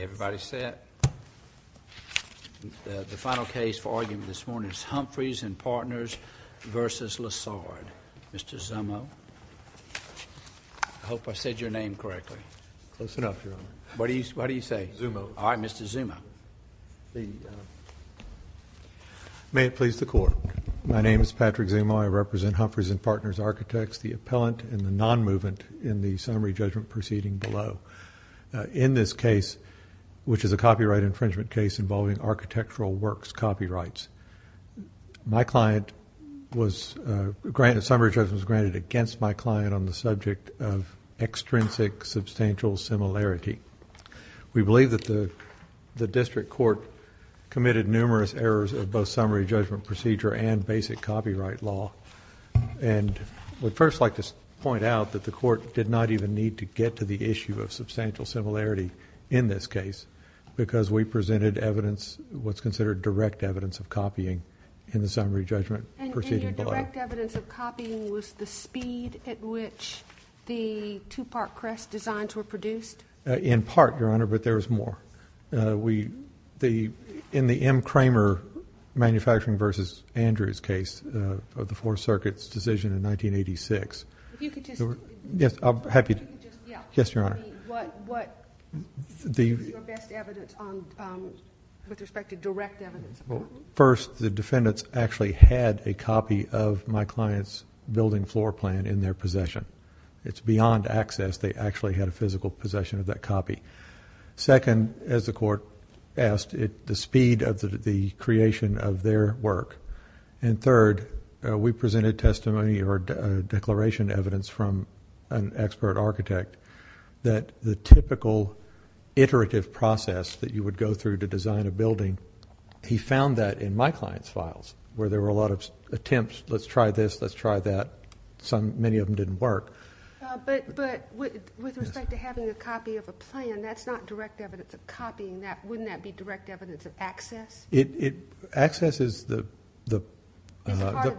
Everybody set? The final case for argument this morning is Humphreys & Partners v. Lessard. Mr. Zummo. I hope I said your name correctly. Close enough, Your Honor. What do you say? Zummo. All right, Mr. Zummo. May it please the Court. My name is Patrick Zummo. I represent Humphreys & Partners Architects, the appellant and the non-movement, in the summary judgment proceeding below. In this case, which is a copyright infringement case involving architectural works copyrights, my client was granted summary judgment against my client on the subject of extrinsic substantial similarity. We believe that the district court committed numerous errors of both summary judgment procedure and basic copyright law. I would first like to point out that the court did not even need to get to the issue of substantial similarity in this case because we presented evidence, what's considered direct evidence of copying in the summary judgment proceeding below. And your direct evidence of copying was the speed at which the two-part crest designs were produced? In part, Your Honor, but there was more. In the M. Kramer Manufacturing v. Andrews case of the Fourth Circuit's decision in 1986... If you could just... Yes, I'm happy to... Yes, Your Honor. What is your best evidence with respect to direct evidence? First, the defendants actually had a copy of my client's building floor plan in their possession. It's beyond access. They actually had a physical possession of that copy. Second, as the court asked, the speed of the creation of their work. And third, we presented testimony or declaration evidence from an expert architect that the typical iterative process that you would go through to design a building, he found that in my client's files where there were a lot of attempts, let's try this, let's try that. Many of them didn't work. But with respect to having a copy of a plan, that's not direct evidence of copying that. Wouldn't that be direct evidence of access? Access is the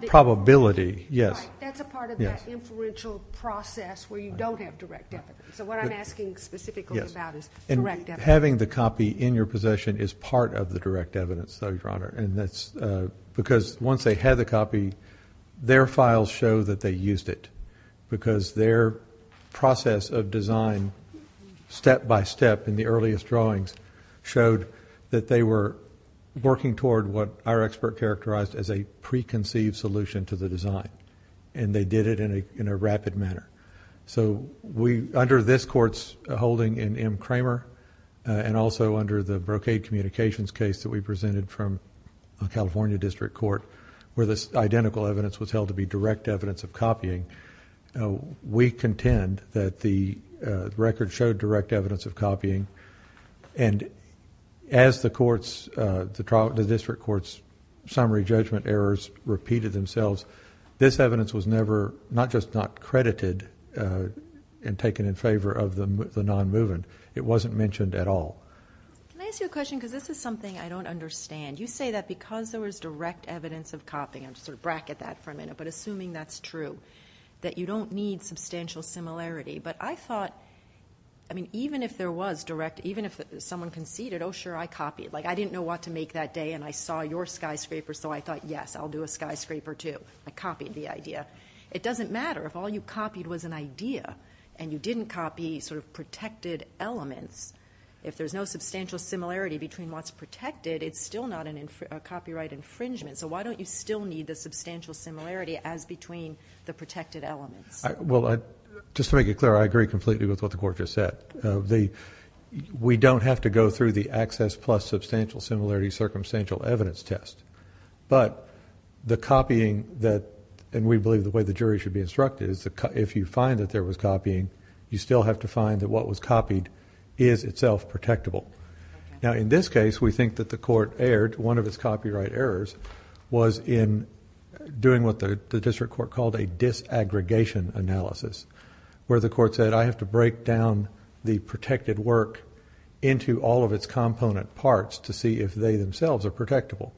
probability, yes. That's a part of that inferential process where you don't have direct evidence. So what I'm asking specifically about is direct evidence. And having the copy in your possession is part of the direct evidence, though, Your Honor. Because once they had the copy, their files show that they used it because their process of design step-by-step in the earliest drawings showed that they were working toward what our expert characterized as a preconceived solution to the design. And they did it in a rapid manner. So under this court's holding in M. Kramer and also under the brocade communications case that we presented from a California district court where the identical evidence was held to be direct evidence of copying, we contend that the record showed direct evidence of copying. And as the district court's summary judgment errors repeated themselves, this evidence was never, not just not credited and taken in favor of the non-movement, it wasn't mentioned at all. Can I ask you a question? Because this is something I don't understand. You say that because there was direct evidence of copying, and I'll sort of bracket that for a minute, but assuming that's true, that you don't need substantial similarity. But I thought, I mean, even if there was direct, even if someone conceded, oh, sure, I copied, like I didn't know what to make that day and I saw your skyscraper, so I thought, yes, I'll do a skyscraper too. I copied the idea. It doesn't matter if all you copied was an idea and you didn't copy sort of protected elements. If there's no substantial similarity between what's protected, it's still not a copyright infringement. So why don't you still need the substantial similarity as between the protected elements? Well, just to make it clear, I agree completely with what the court just said. We don't have to go through the access plus substantial similarity circumstantial evidence test. But the copying that, and we believe the way the jury should be instructed, if you find that there was copying, you still have to find that what was copied is itself protectable. Now, in this case, we think that the court erred. One of its copyright errors was in doing what the district court called a disaggregation analysis, where the court said, I have to break down the protected work into all of its component parts to see if they themselves are protectable.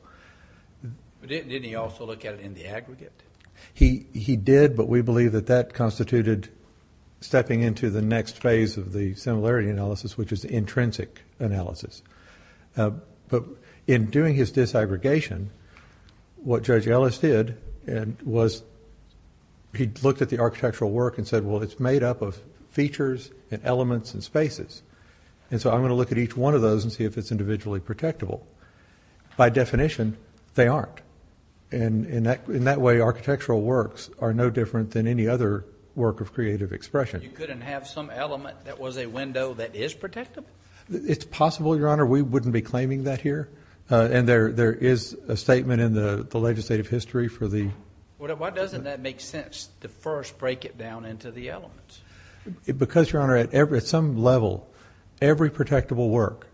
But didn't he also look at it in the aggregate? He did, but we believe that that constituted stepping into the next phase of the similarity analysis, which is the intrinsic analysis. But in doing his disaggregation, what Judge Ellis did was he looked at the architectural work and said, well, it's made up of features and elements and spaces. And so I'm going to look at each one of those and see if it's individually protectable. By definition, they aren't. And in that way, architectural works are no different than any other work of creative expression. You couldn't have some element that was a window that is protectable? It's possible, Your Honor. We wouldn't be claiming that here. And there is a statement in the legislative history for the… Why doesn't that make sense to first break it down into the elements? Because, Your Honor, at some level, every protectable work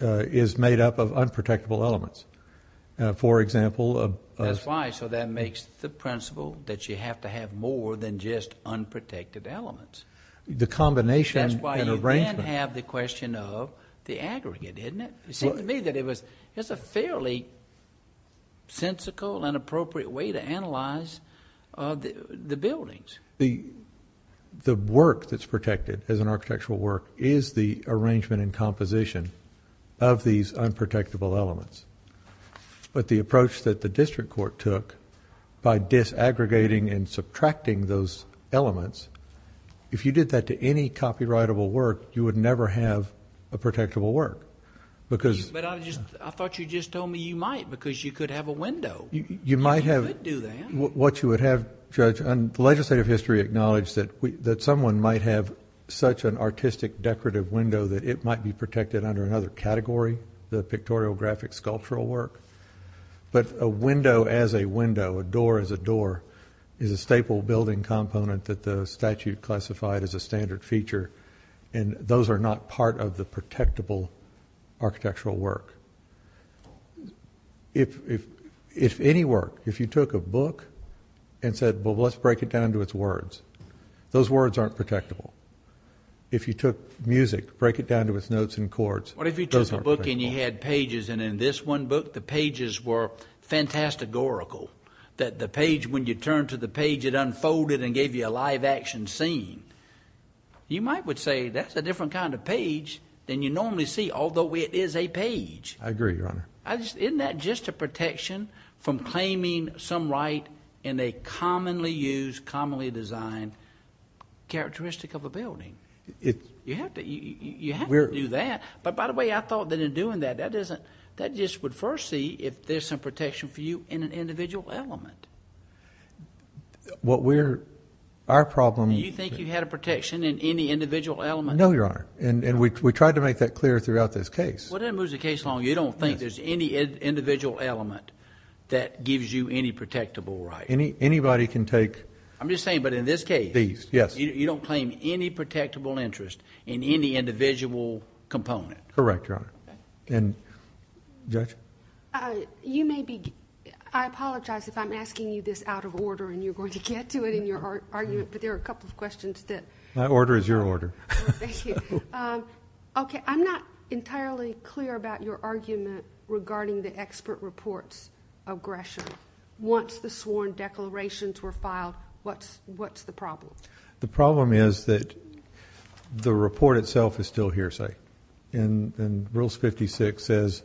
is made up of unprotectable elements. For example… That's why. So that makes the principle that you have to have more than just unprotected elements. The combination and arrangement. That's why you then have the question of the aggregate, isn't it? It seemed to me that it was a fairly sensical and appropriate way to analyze the buildings. The work that's protected as an architectural work is the arrangement and composition of these unprotectable elements. But the approach that the district court took by disaggregating and subtracting those elements, if you did that to any copyrightable work, you would never have a protectable work because... But I thought you just told me you might because you could have a window. You might have... You could do that. What you would have, Judge, and the legislative history acknowledged that someone might have such an artistic decorative window that it might be protected under another category, the pictorial graphic sculptural work. But a window as a window, a door as a door, is a staple building component that the statute classified as a standard feature, and those are not part of the protectable architectural work. If any work, if you took a book and said, well, let's break it down to its words, those words aren't protectable. If you took music, break it down to its notes and chords, those aren't protectable. What if you took a book and you had pages, and in this one book the pages were fantasticorical, that the page, when you turned to the page, it unfolded and gave you a live action scene? You might say that's a different kind of page than you normally see, although it is a page. I agree, Your Honor. Isn't that just a protection from claiming some right in a commonly used, commonly designed characteristic of a building? You have to do that. By the way, I thought that in doing that, that just would first see if there's some protection for you in an individual element. Our problem... Do you think you had a protection in any individual element? No, Your Honor, and we tried to make that clear throughout this case. Well, that moves the case along. You don't think there's any individual element that gives you any protectable right? Anybody can take... I'm just saying, but in this case... These, yes. You don't claim any protectable interest in any individual component? Correct, Your Honor. Judge? You may be... I apologize if I'm asking you this out of order, and you're going to get to it in your argument, but there are a couple of questions that... My order is your order. Thank you. Okay, I'm not entirely clear about your argument regarding the expert reports of Gresham. Once the sworn declarations were filed, what's the problem? The problem is that the report itself is still hearsay, and Rules 56 says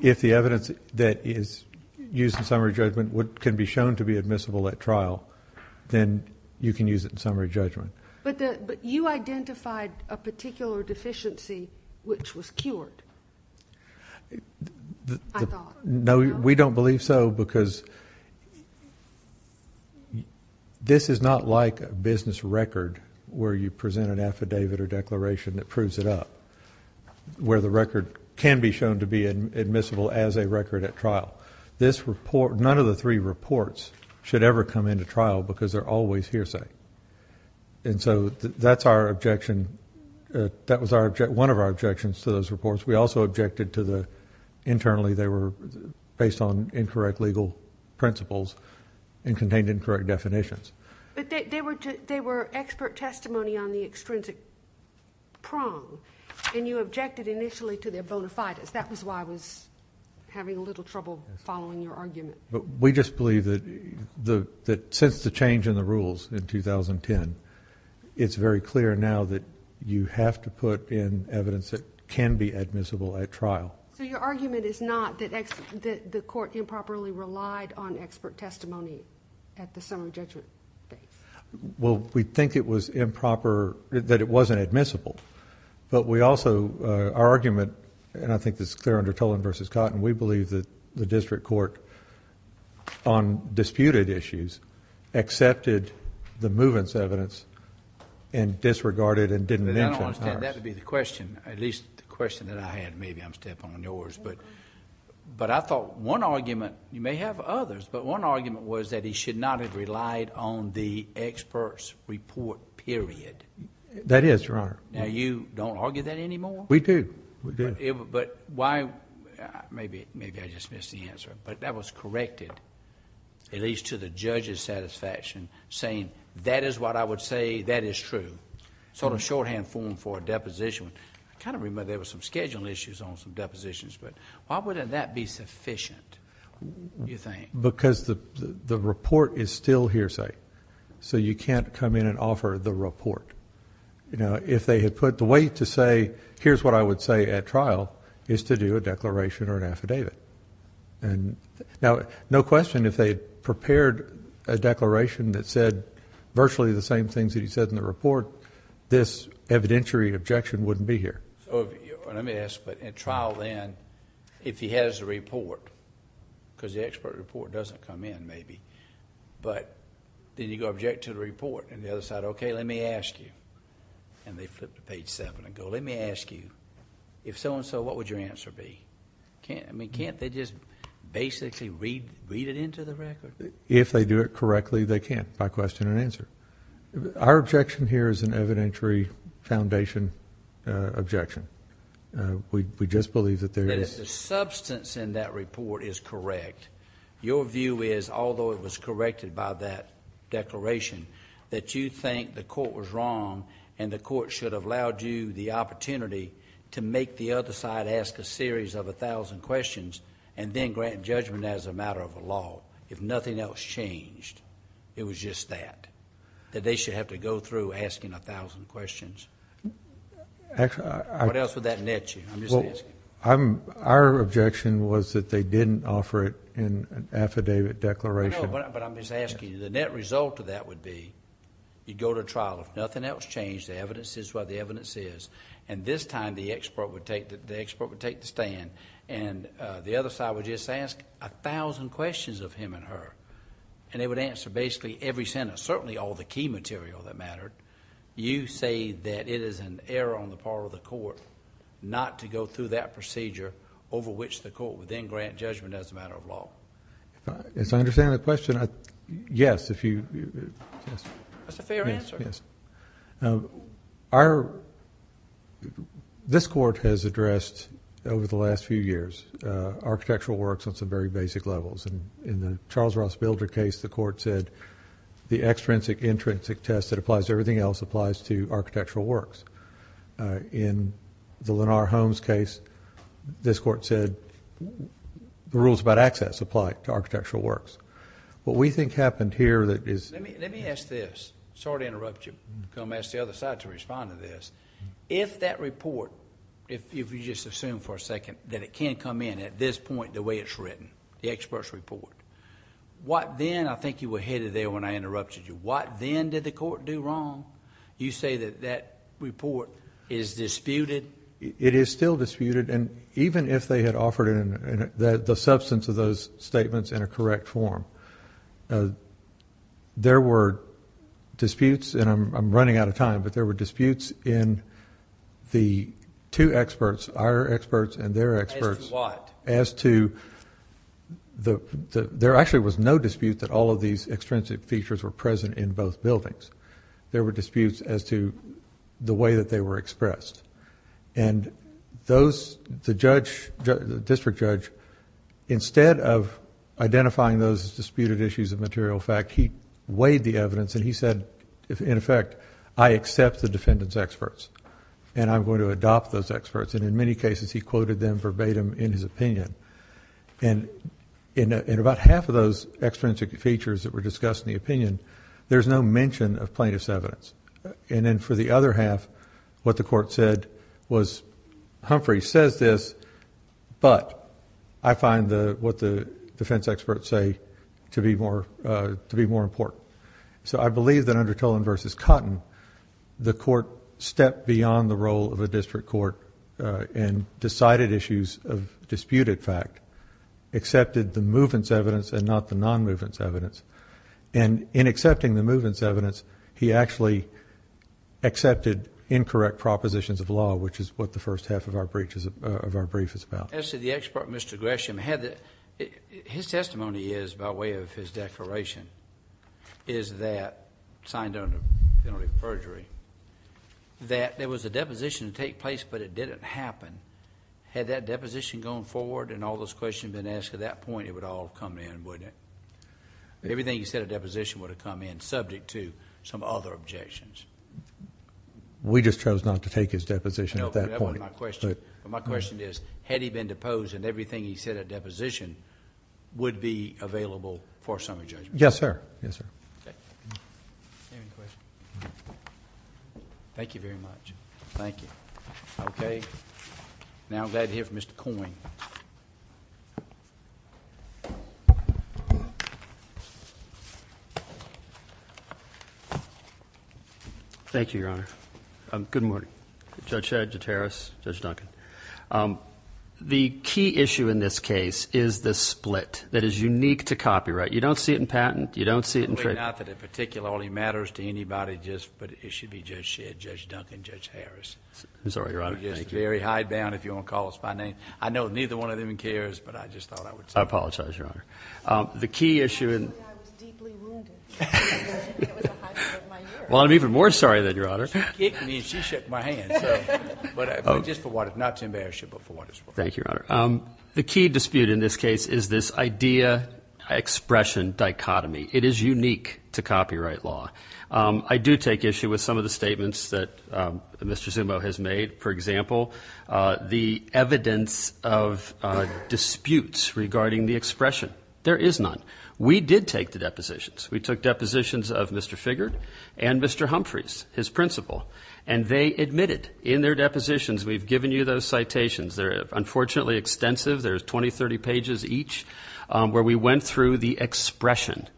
if the evidence that is used in summary judgment can be shown to be admissible at trial, then you can use it in summary judgment. But you identified a particular deficiency which was cured, I thought. No, we don't believe so, because this is not like a business record where you present an affidavit or declaration that proves it up, where the record can be shown to be admissible as a record at trial. None of the three reports should ever come into trial because they're always hearsay. And so that's our objection. That was one of our objections to those reports. We also objected to the... Internally, they were based on incorrect legal principles and contained incorrect definitions. But they were expert testimony on the extrinsic prong, and you objected initially to their bona fides. That was why I was having a little trouble following your argument. We just believe that since the change in the rules in 2010, it's very clear now that you have to put in evidence that can be admissible at trial. So your argument is not that the court improperly relied on expert testimony at the summary judgment phase? Well, we think it was improper... that it wasn't admissible. But we also... our argument, and I think this is clear under Tolan v. Cotton, we believe that the district court on disputed issues accepted the movements evidence and disregarded and didn't mention ours. I don't understand. That would be the question, at least the question that I had. Maybe I'm stepping on yours. But I thought one argument... you may have others, but one argument was that he should not have relied on the expert's report period. That is, Your Honor. Now, you don't argue that anymore? We do. We do. But why... maybe I just missed the answer, but that was corrected, at least to the judge's satisfaction, saying, that is what I would say, that is true. Sort of shorthand form for a deposition. I kind of remember there was some schedule issues on some depositions, but why wouldn't that be sufficient, you think? Because the report is still hearsay, so you can't come in and offer the report. If they had put... the way to say, here's what I would say at trial, is to do a declaration or an affidavit. Now, no question, if they had prepared a declaration that said virtually the same things that he said in the report, this evidentiary objection wouldn't be here. Let me ask, but at trial then, if he has the report, because the expert report doesn't come in maybe, but then you go object to the report, and the other side, okay, let me ask you, and they flip to page seven and go, let me ask you, if so and so, what would your answer be? I mean, can't they just basically read it into the record? If they do it correctly, they can't, by question and answer. Our objection here is an evidentiary foundation objection. We just believe that there is... That is, the substance in that report is correct. Your view is, although it was corrected by that declaration, that you think the court was wrong, and the court should have allowed you the opportunity to make the other side ask a series of 1,000 questions, and then grant judgment as a matter of law. If nothing else changed, it was just that, that they should have to go through asking 1,000 questions. What else would that net you? Our objection was that they didn't offer it in an affidavit declaration. No, but I'm just asking you, the net result of that would be, you'd go to trial. If nothing else changed, the evidence is what the evidence is. This time, the expert would take the stand, and the other side would just ask 1,000 questions of him and her, and they would answer basically every sentence, certainly all the key material that mattered. You say that it is an error on the part of the court not to go through that procedure over which the court would then grant judgment as a matter of law. As I understand the question, yes, if you... That's a fair answer. Yes. This court has addressed, over the last few years, architectural works on some very basic levels. In the Charles Ross Bilder case, the court said, the extrinsic-intrinsic test that applies to everything else applies to architectural works. In the Lenar Holmes case, this court said, the rules about access apply to architectural works. What we think happened here that is... Let me ask this. Sorry to interrupt you. I'm going to ask the other side to respond to this. If that report, if you just assume for a second that it can come in at this point the way it's written, the expert's report, what then... I think you were headed there when I interrupted you. What then did the court do wrong? You say that that report is disputed. It is still disputed, and even if they had offered the substance of those statements in a correct form, there were disputes, and I'm running out of time, but there were disputes in the two experts, our experts and their experts... As to what? As to... There actually was no dispute that all of these extrinsic features were present in both buildings. There were disputes as to the way that they were expressed. The district judge, instead of identifying those as disputed issues of material fact, he weighed the evidence, and he said, in effect, I accept the defendant's experts, and I'm going to adopt those experts. In many cases, he quoted them verbatim in his opinion. In about half of those extrinsic features that were discussed in the opinion, there's no mention of plaintiff's evidence. For the other half, what the court said was, Humphrey says this, but I find what the defense experts say to be more important. I believe that under Tolan v. Cotton, the court stepped beyond the role of a district court and decided issues of disputed fact, accepted the movement's evidence and not the non-movement's evidence. In accepting the movement's evidence, he actually accepted incorrect propositions of law, which is what the first half of our brief is about. As to the expert, Mr. Gresham, his testimony is, by way of his declaration, is that, signed under penalty of perjury, that there was a deposition to take place, but it didn't happen. Had that deposition gone forward and all those questions been asked at that point, it would all have come in, wouldn't it? Everything he said of deposition would have come in, subject to some other objections. We just chose not to take his deposition at that point. My question is, had he been deposed and everything he said of deposition would be available for a summary judgment? Yes, sir. Thank you very much. Thank you. Okay, now I'm glad to hear from Mr. Coyne. Thank you, Your Honor. Good morning. Judge Shedd, Judge Harris, Judge Duncan. The key issue in this case is the split that is unique to copyright. You don't see it in patent, you don't see it in trade. It's not that it particularly matters to anybody, but it should be Judge Shedd, Judge Duncan, Judge Harris. I'm sorry, Your Honor. Thank you. Very hidebound, if you want to call us by name. I know neither one of them cares, but I just thought I would say that. I apologize, Your Honor. I feel like I was deeply wounded. It was a high point of my year. Well, I'm even more sorry than you, Your Honor. She kicked me and she shook my hand. But just for what it's worth, not to embarrass you, but for what it's worth. Thank you, Your Honor. The key dispute in this case is this idea-expression dichotomy. It is unique to copyright law. I do take issue with some of the statements that Mr. Zumo has made. For example, the evidence of disputes regarding the expression. There is none. We did take the depositions. We took depositions of Mr. Figured and Mr. Humphreys, his principal. And they admitted in their depositions, we've given you those citations. They're unfortunately extensive. There's 20, 30 pages each where we went through the expression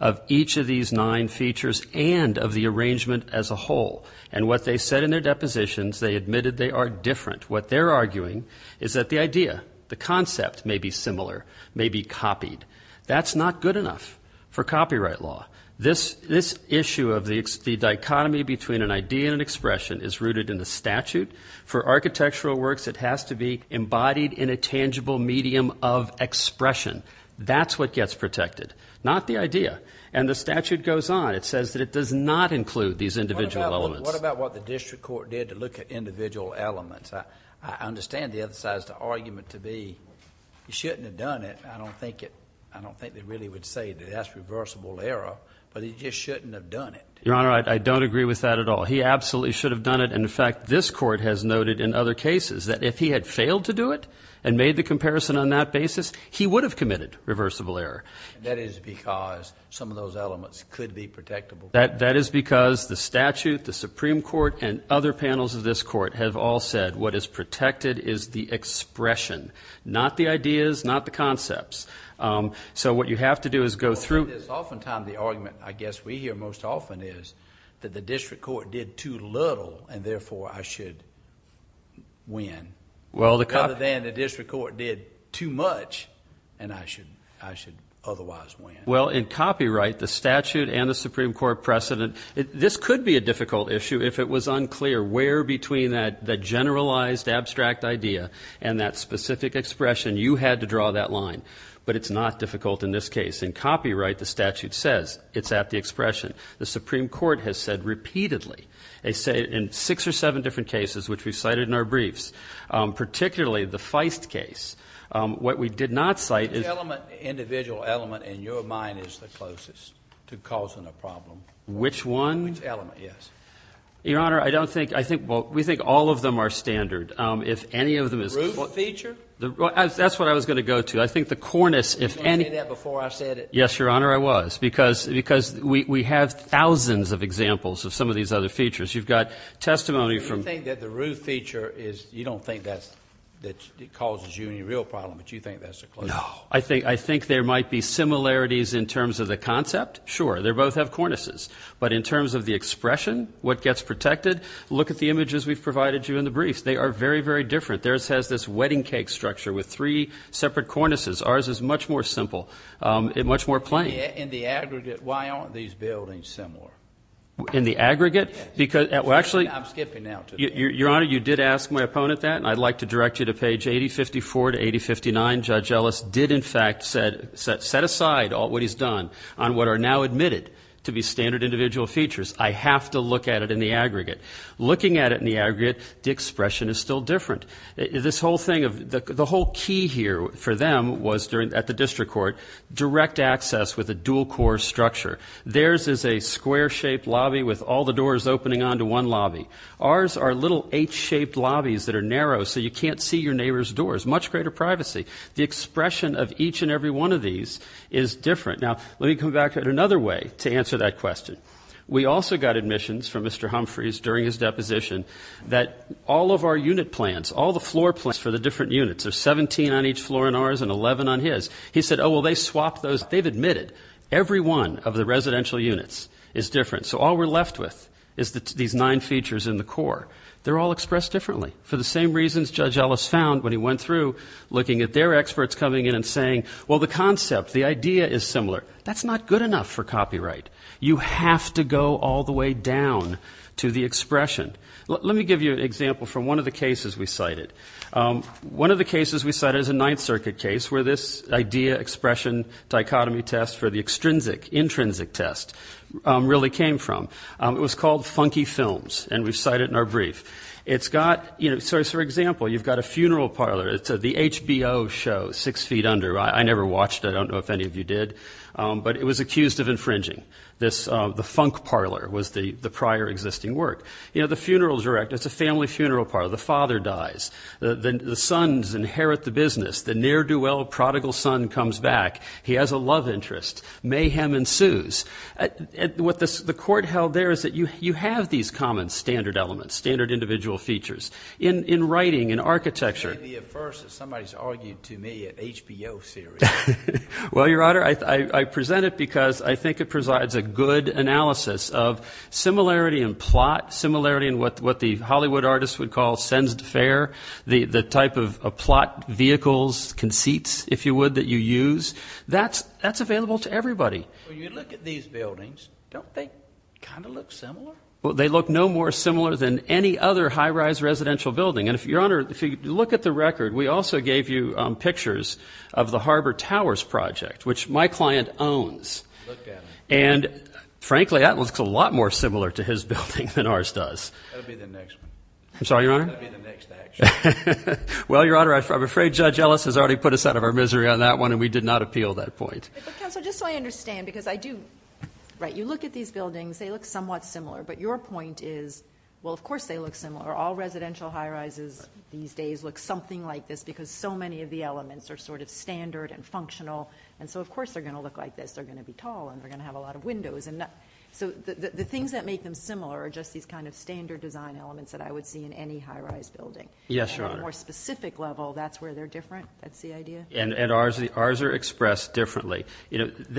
of each of these nine features and of the arrangement as a whole. And what they said in their depositions, they admitted they are different. What they're arguing is that the idea, the concept may be similar, may be copied. That's not good enough for copyright law. This issue of the dichotomy between an idea and an expression is rooted in the statute. For architectural works, it has to be embodied in a tangible medium of expression. That's what gets protected, not the idea. And the statute goes on. It says that it does not include these individual elements. What about what the district court did to look at individual elements? I understand the other side's argument to be you shouldn't have done it. I don't think they really would say that that's reversible error. But he just shouldn't have done it. Your Honor, I don't agree with that at all. He absolutely should have done it. And, in fact, this court has noted in other cases that if he had failed to do it and made the comparison on that basis, he would have committed reversible error. That is because some of those elements could be protectable. That is because the statute, the Supreme Court, and other panels of this court have all said what is protected is the expression, not the ideas, not the concepts. So what you have to do is go through. Oftentimes the argument, I guess we hear most often, is that the district court did too little and, therefore, I should win. Rather than the district court did too much and I should otherwise win. Well, in copyright, the statute and the Supreme Court precedent, this could be a difficult issue if it was unclear where between that generalized, abstract idea and that specific expression you had to draw that line. But it's not difficult in this case. In copyright, the statute says it's at the expression. The Supreme Court has said repeatedly, in six or seven different cases, which we've cited in our briefs, particularly the Feist case, what we did not cite is. Which element, individual element, in your mind is the closest to causing a problem? Which one? Which element, yes. Your Honor, I don't think, I think, well, we think all of them are standard. If any of them is. Root feature? That's what I was going to go to. I think the cornice, if any. Did you say that before I said it? Yes, Your Honor, I was. Because we have thousands of examples of some of these other features. You've got testimony from. I think that the root feature is, you don't think that causes you any real problem, but you think that's the closest? No. I think there might be similarities in terms of the concept. Sure, they both have cornices. But in terms of the expression, what gets protected? Look at the images we've provided you in the briefs. They are very, very different. Theirs has this wedding cake structure with three separate cornices. Ours is much more simple and much more plain. In the aggregate, why aren't these buildings similar? In the aggregate? Yes. I'm skipping now. Your Honor, you did ask my opponent that, and I'd like to direct you to page 8054 to 8059. Judge Ellis did, in fact, set aside what he's done on what are now admitted to be standard individual features. I have to look at it in the aggregate. Looking at it in the aggregate, the expression is still different. The whole key here for them was, at the district court, direct access with a dual core structure. Theirs is a square-shaped lobby with all the doors opening onto one lobby. Ours are little H-shaped lobbies that are narrow so you can't see your neighbor's doors. Much greater privacy. The expression of each and every one of these is different. Now, let me come back to it another way to answer that question. We also got admissions from Mr. Humphreys during his deposition that all of our unit plans, all the floor plans for the different units, there's 17 on each floor in ours and 11 on his. He said, oh, well, they swapped those. In fact, they've admitted every one of the residential units is different. So all we're left with is these nine features in the core. They're all expressed differently for the same reasons Judge Ellis found when he went through, looking at their experts coming in and saying, well, the concept, the idea is similar. That's not good enough for copyright. You have to go all the way down to the expression. One of the cases we cited is a Ninth Circuit case where this idea expression dichotomy test for the extrinsic, intrinsic test really came from. It was called Funky Films, and we cite it in our brief. It's got, you know, so, for example, you've got a funeral parlor. It's the HBO show, Six Feet Under. I never watched it. I don't know if any of you did. But it was accused of infringing. The funk parlor was the prior existing work. You know, the funeral director, it's a family funeral parlor. The father dies. The sons inherit the business. The ne'er-do-well prodigal son comes back. He has a love interest. Mayhem ensues. And what the court held there is that you have these common standard elements, standard individual features. In writing, in architecture. Maybe at first somebody's argued to me an HBO series. Well, Your Honor, I present it because I think it presides a good analysis of similarity in plot, similarity in what the Hollywood artists would call sens de faire, the type of plot vehicles, conceits, if you would, that you use. That's available to everybody. When you look at these buildings, don't they kind of look similar? They look no more similar than any other high-rise residential building. And, Your Honor, if you look at the record, we also gave you pictures of the Harbor Towers project, which my client owns. Look at it. And, frankly, that looks a lot more similar to his building than ours does. That will be the next one. I'm sorry, Your Honor? That will be the next action. Well, Your Honor, I'm afraid Judge Ellis has already put us out of our misery on that one, and we did not appeal that point. But, Counselor, just so I understand, because I do, right, you look at these buildings. They look somewhat similar. But your point is, well, of course they look similar. All residential high-rises these days look something like this because so many of the elements are sort of standard and functional, and so, of course, they're going to look like this. They're going to be tall, and they're going to have a lot of windows. So the things that make them similar are just these kind of standard design elements that I would see in any high-rise building. Yes, Your Honor. And on a more specific level, that's where they're different. That's the idea. And ours are expressed differently.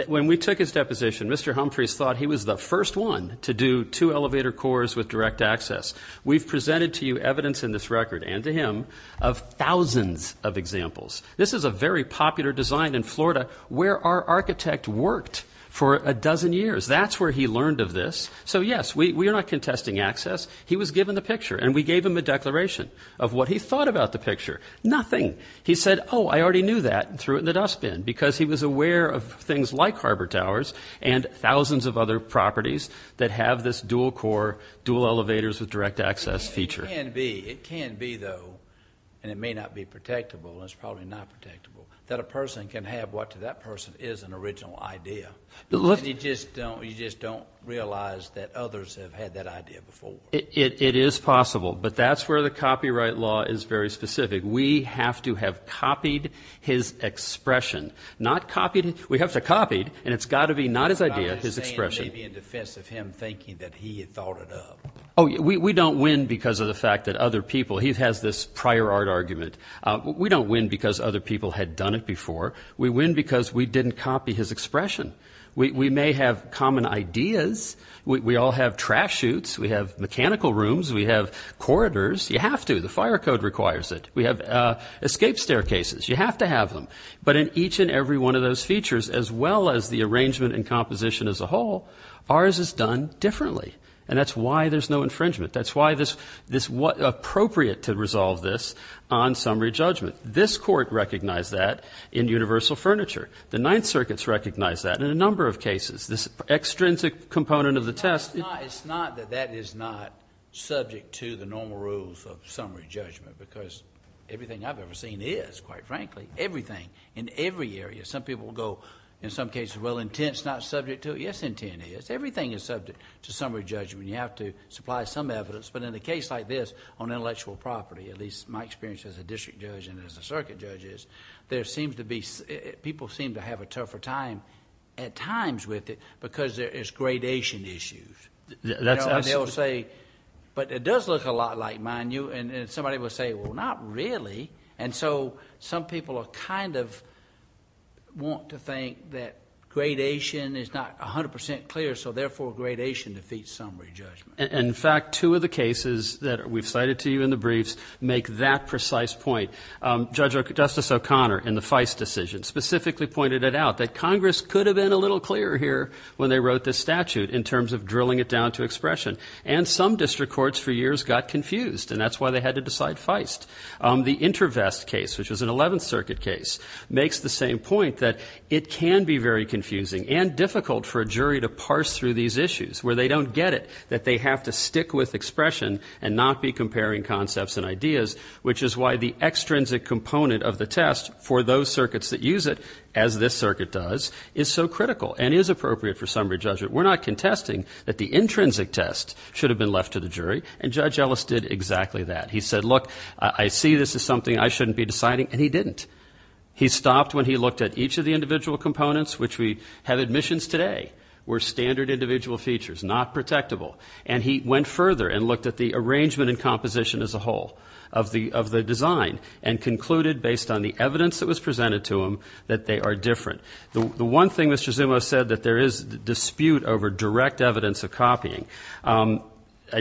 When we took his deposition, Mr. Humphreys thought he was the first one to do two elevator cores with direct access. We've presented to you evidence in this record, and to him, of thousands of examples. This is a very popular design in Florida where our architect worked for a dozen years. That's where he learned of this. So, yes, we are not contesting access. He was given the picture, and we gave him a declaration of what he thought about the picture. Nothing. He said, oh, I already knew that, and threw it in the dustbin because he was aware of things like harbor towers and thousands of other properties that have this dual core, dual elevators with direct access feature. It can be. It can be, though, and it may not be protectable. It's probably not protectable. That a person can have what to that person is an original idea. You just don't realize that others have had that idea before. It is possible, but that's where the copyright law is very specific. We have to have copied his expression. Not copied. We have to have copied, and it's got to be not his idea, his expression. I'm just saying maybe in defense of him thinking that he had thought it up. Oh, we don't win because of the fact that other people. He has this prior art argument. We don't win because other people had done it before. We win because we didn't copy his expression. We may have common ideas. We all have trash chutes. We have mechanical rooms. We have corridors. You have to. The fire code requires it. We have escape staircases. You have to have them. But in each and every one of those features, as well as the arrangement and composition as a whole, ours is done differently, and that's why there's no infringement. That's why it's appropriate to resolve this on summary judgment. This Court recognized that in universal furniture. The Ninth Circuit's recognized that in a number of cases. This extrinsic component of the test. It's not that that is not subject to the normal rules of summary judgment, because everything I've ever seen is, quite frankly, everything in every area. Some people will go, in some cases, well, intent's not subject to it. Yes, intent is. Everything is subject to summary judgment. You have to supply some evidence, but in a case like this, on intellectual property, at least my experience as a district judge and as a circuit judge is, there seems to be... people seem to have a tougher time at times with it, because there is gradation issues. They'll say, but it does look a lot like mine. Somebody will say, well, not really. Some people kind of want to think that gradation is not 100% clear, so therefore gradation defeats summary judgment. In fact, two of the cases that we've cited to you in the briefs make that precise point. Justice O'Connor in the Feist decision specifically pointed it out, that Congress could have been a little clearer here when they wrote this statute in terms of drilling it down to expression. And some district courts for years got confused, and that's why they had to decide Feist. The InterVest case, which was an Eleventh Circuit case, makes the same point that it can be very confusing and difficult for a jury to parse through these issues, where they don't get it that they have to stick with expression and not be comparing concepts and ideas, which is why the extrinsic component of the test for those circuits that use it, as this circuit does, is so critical and is appropriate for summary judgment. We're not contesting that the intrinsic test should have been left to the jury, and Judge Ellis did exactly that. He said, look, I see this is something I shouldn't be deciding, and he didn't. He stopped when he looked at each of the individual components, which we have admissions today, were standard individual features, not protectable. And he went further and looked at the arrangement and composition as a whole of the design and concluded, based on the evidence that was presented to him, that they are different. The one thing Mr. Zumo said, that there is dispute over direct evidence of copying, I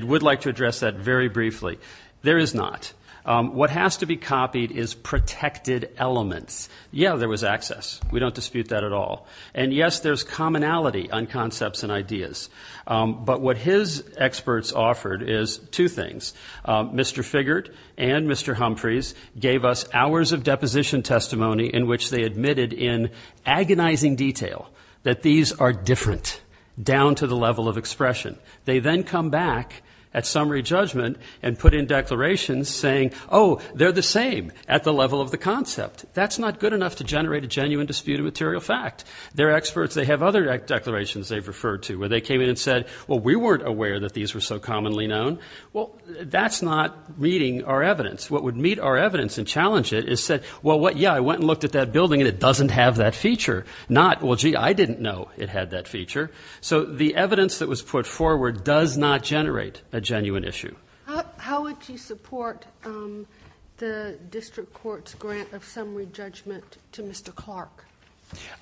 would like to address that very briefly. There is not. What has to be copied is protected elements. Yeah, there was access. We don't dispute that at all. And, yes, there's commonality on concepts and ideas. But what his experts offered is two things. Mr. Figert and Mr. Humphreys gave us hours of deposition testimony in which they admitted in agonizing detail that these are different down to the level of expression. They then come back at summary judgment and put in declarations saying, oh, they're the same at the level of the concept. That's not good enough to generate a genuine dispute of material fact. Their experts, they have other declarations they've referred to, where they came in and said, well, we weren't aware that these were so commonly known. Well, that's not meeting our evidence. What would meet our evidence and challenge it is said, well, yeah, I went and looked at that building and it doesn't have that feature. Not, well, gee, I didn't know it had that feature. So the evidence that was put forward does not generate a genuine issue. How would you support the district court's grant of summary judgment to Mr. Clark?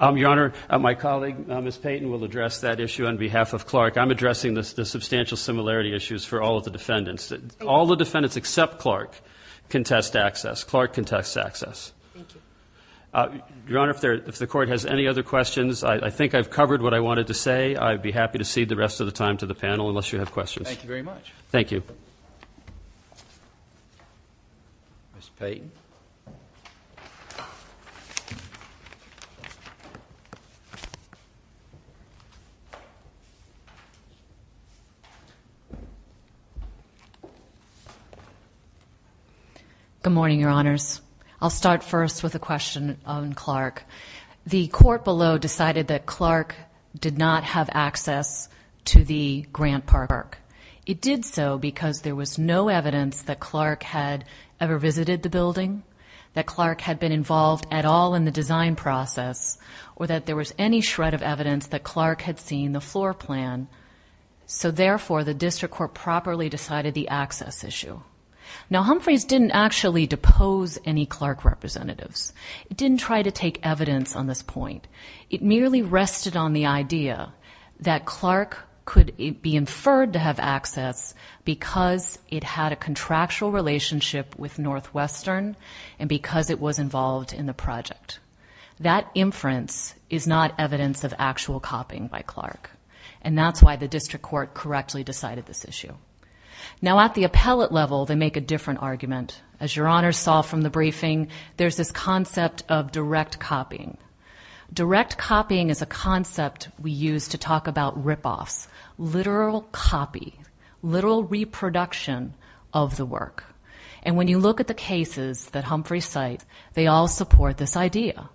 Your Honor, my colleague, Ms. Payton, will address that issue on behalf of Clark. I'm addressing the substantial similarity issues for all of the defendants. All the defendants except Clark can test access. Clark can test access. Thank you. Your Honor, if the Court has any other questions, I think I've covered what I wanted to say. I'd be happy to cede the rest of the time to the panel unless you have questions. Thank you very much. Thank you. Ms. Payton. Good morning, Your Honors. I'll start first with a question on Clark. The court below decided that Clark did not have access to the Grant Park. It did so because there was no evidence that Clark had ever visited the building, that Clark had been involved at all in the design process, or that there was any shred of evidence that Clark had seen the floor plan. So, therefore, the district court properly decided the access issue. Now, Humphreys didn't actually depose any Clark representatives. It didn't try to take evidence on this point. It merely rested on the idea that Clark could be inferred to have access because it had a contractual relationship with Northwestern and because it was involved in the project. That inference is not evidence of actual copying by Clark, and that's why the district court correctly decided this issue. Now, at the appellate level, they make a different argument. As Your Honors saw from the briefing, there's this concept of direct copying. Direct copying is a concept we use to talk about ripoffs, literal copy, literal reproduction of the work. And when you look at the cases that Humphreys cite, they all support this idea.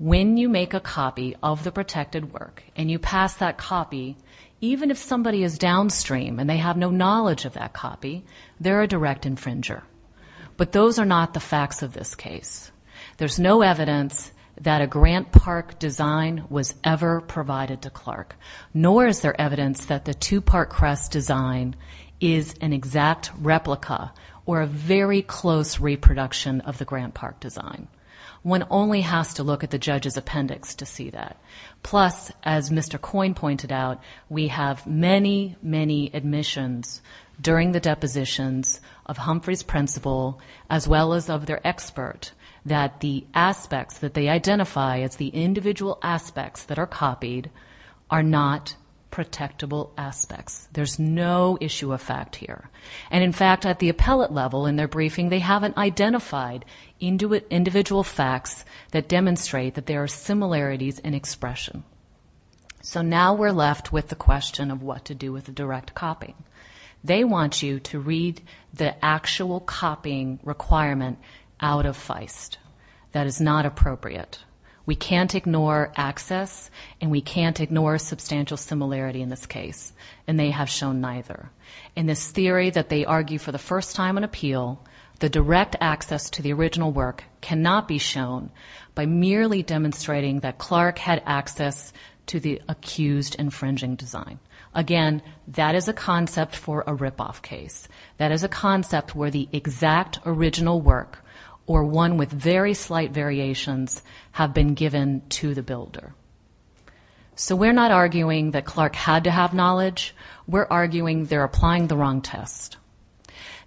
When you make a copy of the protected work and you pass that copy, even if somebody is downstream and they have no knowledge of that copy, they're a direct infringer. But those are not the facts of this case. There's no evidence that a Grant Park design was ever provided to Clark, nor is there evidence that the two-part crest design is an exact replica or a very close reproduction of the Grant Park design. One only has to look at the judge's appendix to see that. Plus, as Mr. Coyne pointed out, we have many, many admissions during the depositions of Humphreys' principal as well as of their expert that the aspects that they identify as the individual aspects that are copied are not protectable aspects. There's no issue of fact here. And, in fact, at the appellate level in their briefing, they haven't identified individual facts that demonstrate that there are similarities in expression. So now we're left with the question of what to do with a direct copy. They want you to read the actual copying requirement out of Feist. That is not appropriate. We can't ignore access, and we can't ignore substantial similarity in this case, and they have shown neither. In this theory that they argue for the first time in appeal, the direct access to the original work cannot be shown by merely demonstrating that Clark had access to the accused infringing design. Again, that is a concept for a ripoff case. That is a concept where the exact original work or one with very slight variations have been given to the builder. So we're not arguing that Clark had to have knowledge. We're arguing they're applying the wrong test.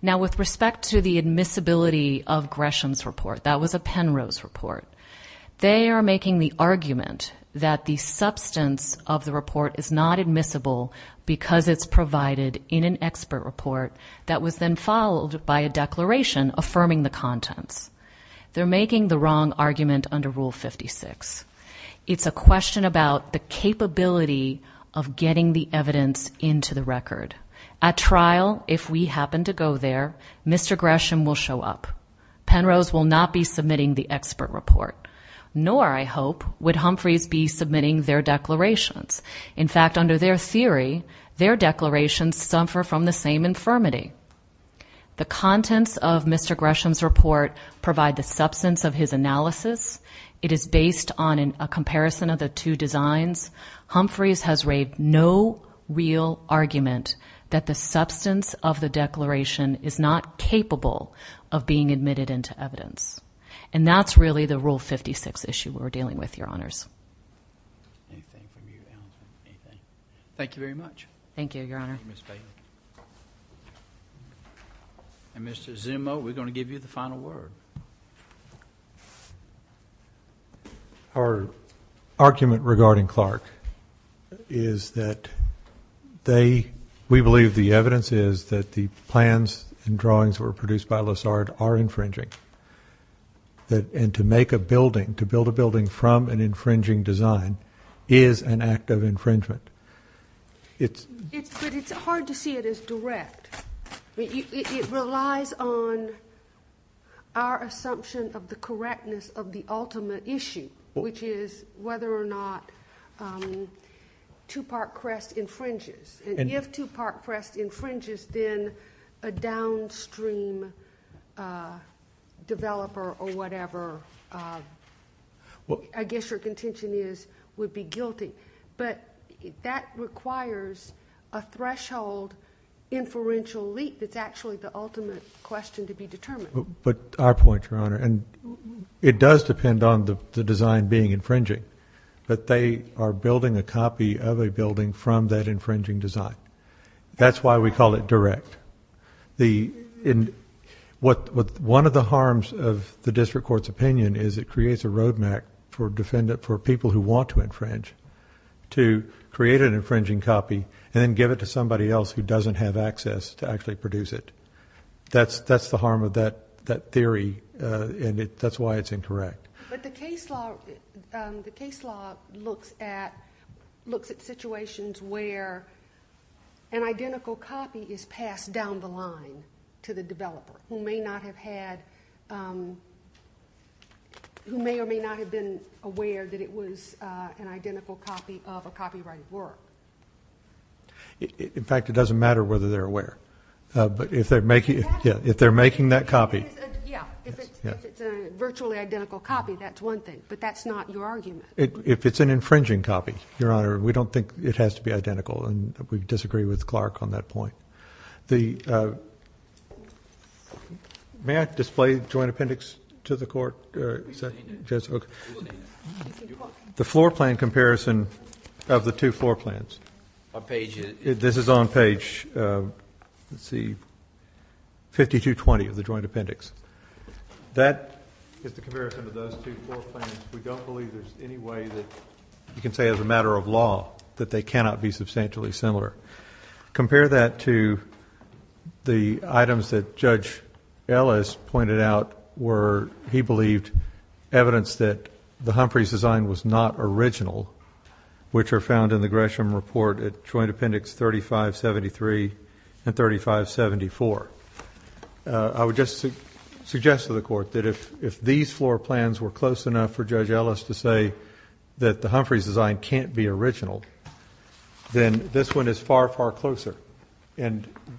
Now, with respect to the admissibility of Gresham's report, that was a Penrose report, they are making the argument that the substance of the report is not admissible because it's provided in an expert report that was then followed by a declaration affirming the contents. They're making the wrong argument under Rule 56. It's a question about the capability of getting the evidence into the record. At trial, if we happen to go there, Mr. Gresham will show up. Penrose will not be submitting the expert report, nor, I hope, would Humphreys be submitting their declarations. In fact, under their theory, their declarations suffer from the same infirmity. The contents of Mr. Gresham's report provide the substance of his analysis. It is based on a comparison of the two designs. Humphreys has raved no real argument that the substance of the declaration is not capable of being admitted into evidence. And that's really the Rule 56 issue we're dealing with, Your Honors. Anything from you, Allison? Anything? Thank you very much. Thank you, Your Honor. Thank you, Ms. Bailey. And, Mr. Zimmo, we're going to give you the final word. Our argument regarding Clark is that we believe the evidence is that the plans and drawings that were produced by Lessard are infringing. And to make a building, to build a building from an infringing design is an act of infringement. But it's hard to see it as direct. It relies on our assumption of the correctness of the ultimate issue, which is whether or not Tupac Crest infringes. And if Tupac Crest infringes, then a downstream developer or whatever, I guess your contention is, would be guilty. But that requires a threshold inferential leap that's actually the ultimate question to be determined. But our point, Your Honor, and it does depend on the design being infringing, but they are building a copy of a building from that infringing design. That's why we call it direct. One of the harms of the district court's opinion is it creates a road map for people who want to infringe to create an infringing copy and then give it to somebody else who doesn't have access to actually produce it. That's the harm of that theory, and that's why it's incorrect. But the case law looks at situations where an identical copy is passed down the line to the developer who may or may not have been aware that it was an identical copy of a copyrighted work. In fact, it doesn't matter whether they're aware. But if they're making that copy. Yeah, if it's a virtually identical copy, that's one thing, but that's not your argument. If it's an infringing copy, Your Honor, we don't think it has to be identical, and we disagree with Clark on that point. May I display the joint appendix to the court? The floor plan comparison of the two floor plans. This is on page 5220 of the joint appendix. That is the comparison of those two floor plans. We don't believe there's any way that you can say as a matter of law that they cannot be substantially similar. Compare that to the items that Judge Ellis pointed out where he believed evidence that the Humphreys design was not original, which are found in the Gresham report at Joint Appendix 3573 and 3574. I would just suggest to the court that if these floor plans were close enough for Judge Ellis to say that the Humphreys design can't be original, then this one is far, far closer.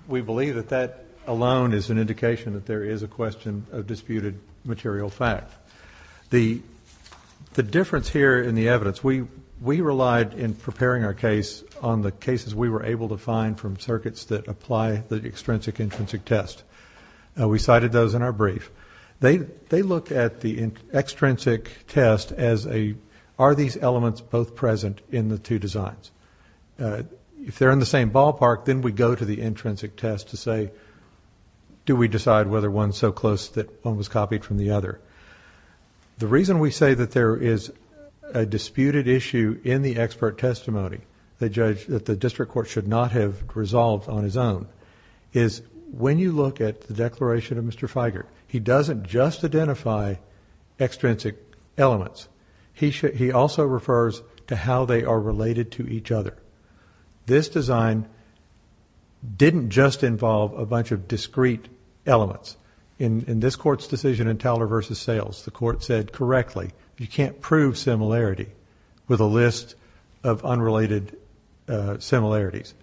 We believe that that alone is an indication that there is a question of disputed material fact. The difference here in the evidence, we relied in preparing our case on the cases we were able to find from circuits that apply the extrinsic-intrinsic test. We cited those in our brief. They look at the extrinsic test as a, are these elements both present in the two designs? If they're in the same ballpark, then we go to the intrinsic test to say, do we decide whether one's so close that one was copied from the other? The reason we say that there is a disputed issue in the expert testimony that the district court should not have resolved on his own is when you look at the declaration of Mr. Feigert, he doesn't just identify extrinsic elements. He also refers to how they are related to each other. This design didn't just involve a bunch of discrete elements. In this court's decision in Towler v. Sales, the court said correctly, you can't prove similarity with a list of unrelated similarities.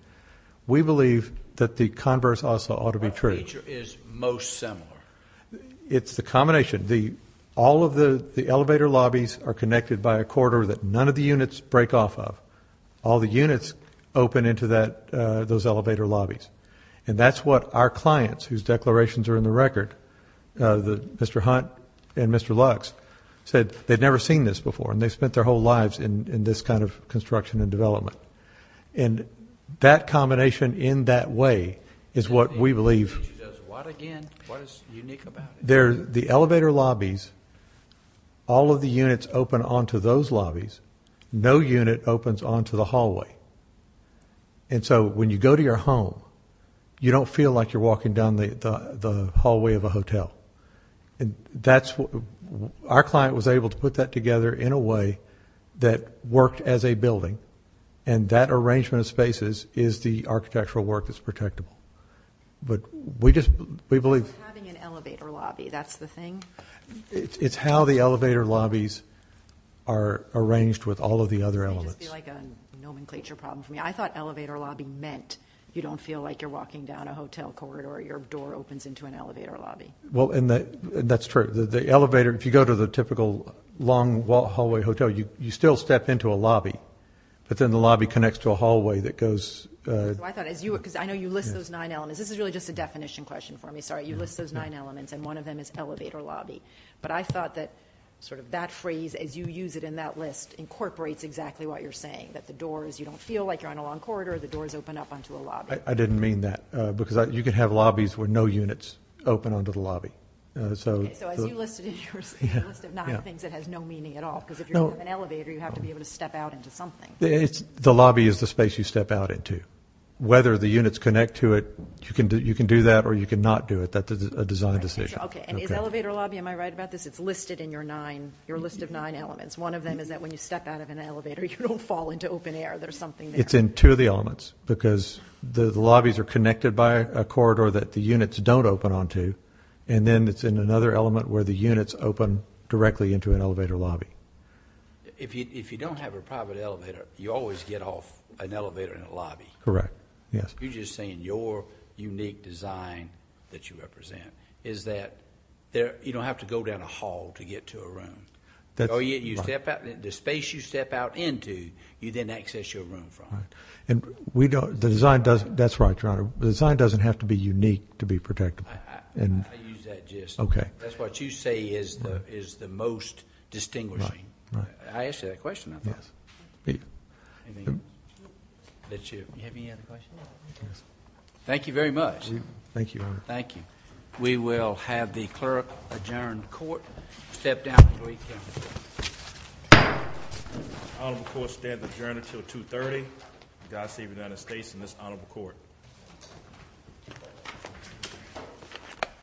We believe that the converse also ought to be true. Which feature is most similar? It's the combination. All of the elevator lobbies are connected by a corridor that none of the units break off of. All the units open into those elevator lobbies. And that's what our clients, whose declarations are in the record, Mr. Hunt and Mr. Lux, said they'd never seen this before and they spent their whole lives in this kind of construction and development. And that combination in that way is what we believe... She does what again? What is unique about it? The elevator lobbies, all of the units open onto those lobbies. No unit opens onto the hallway. And so when you go to your home, you don't feel like you're walking down the hallway of a hotel. And that's what... our client was able to put that together in a way that worked as a building. And that arrangement of spaces is the architectural work that's protectable. But we just... we believe... Having an elevator lobby, that's the thing? It's how the elevator lobbies are arranged with all of the other elements. I just feel like a nomenclature problem for me. I thought elevator lobby meant you don't feel like you're walking down a hotel corridor. Your door opens into an elevator lobby. Well, and that's true. The elevator... if you go to the typical long hallway hotel, you still step into a lobby. But then the lobby connects to a hallway that goes... I thought as you... because I know you list those nine elements. This is really just a definition question for me. Sorry, you list those nine elements and one of them is elevator lobby. But I thought that sort of that phrase, as you use it in that list, incorporates exactly what you're saying. That the doors... you don't feel like you're on a long corridor. The doors open up onto a lobby. I didn't mean that. Because you can have lobbies where no units open onto the lobby. Okay, so as you listed in your list of nine things, it has no meaning at all. Because if you're in an elevator, you have to be able to step out into something. The lobby is the space you step out into. Whether the units connect to it, you can do that or you can not do it. That's a design decision. Okay, and is elevator lobby... am I right about this? It's listed in your nine... your list of nine elements. One of them is that when you step out of an elevator, you don't fall into open air. There's something there. It's in two of the elements. Because the lobbies are connected by a corridor that the units don't open onto. And then it's in another element where the units open directly into an elevator lobby. If you don't have a private elevator, you always get off an elevator in a lobby. Correct, yes. You're just saying your unique design that you represent is that you don't have to go down a hall to get to a room. You step out... the space you step out into, you then access your room from. And we don't... the design doesn't... that's right, Your Honor. The design doesn't have to be unique to be protectable. I use that just... Okay. That's what you say is the most distinguishing. I asked you that question, I thought. Yes. Thank you very much. Thank you, Your Honor. Thank you. We will have the clerk adjourn the court. Step down. Honorable court stands adjourned until 2.30. God save the United States and this honorable court.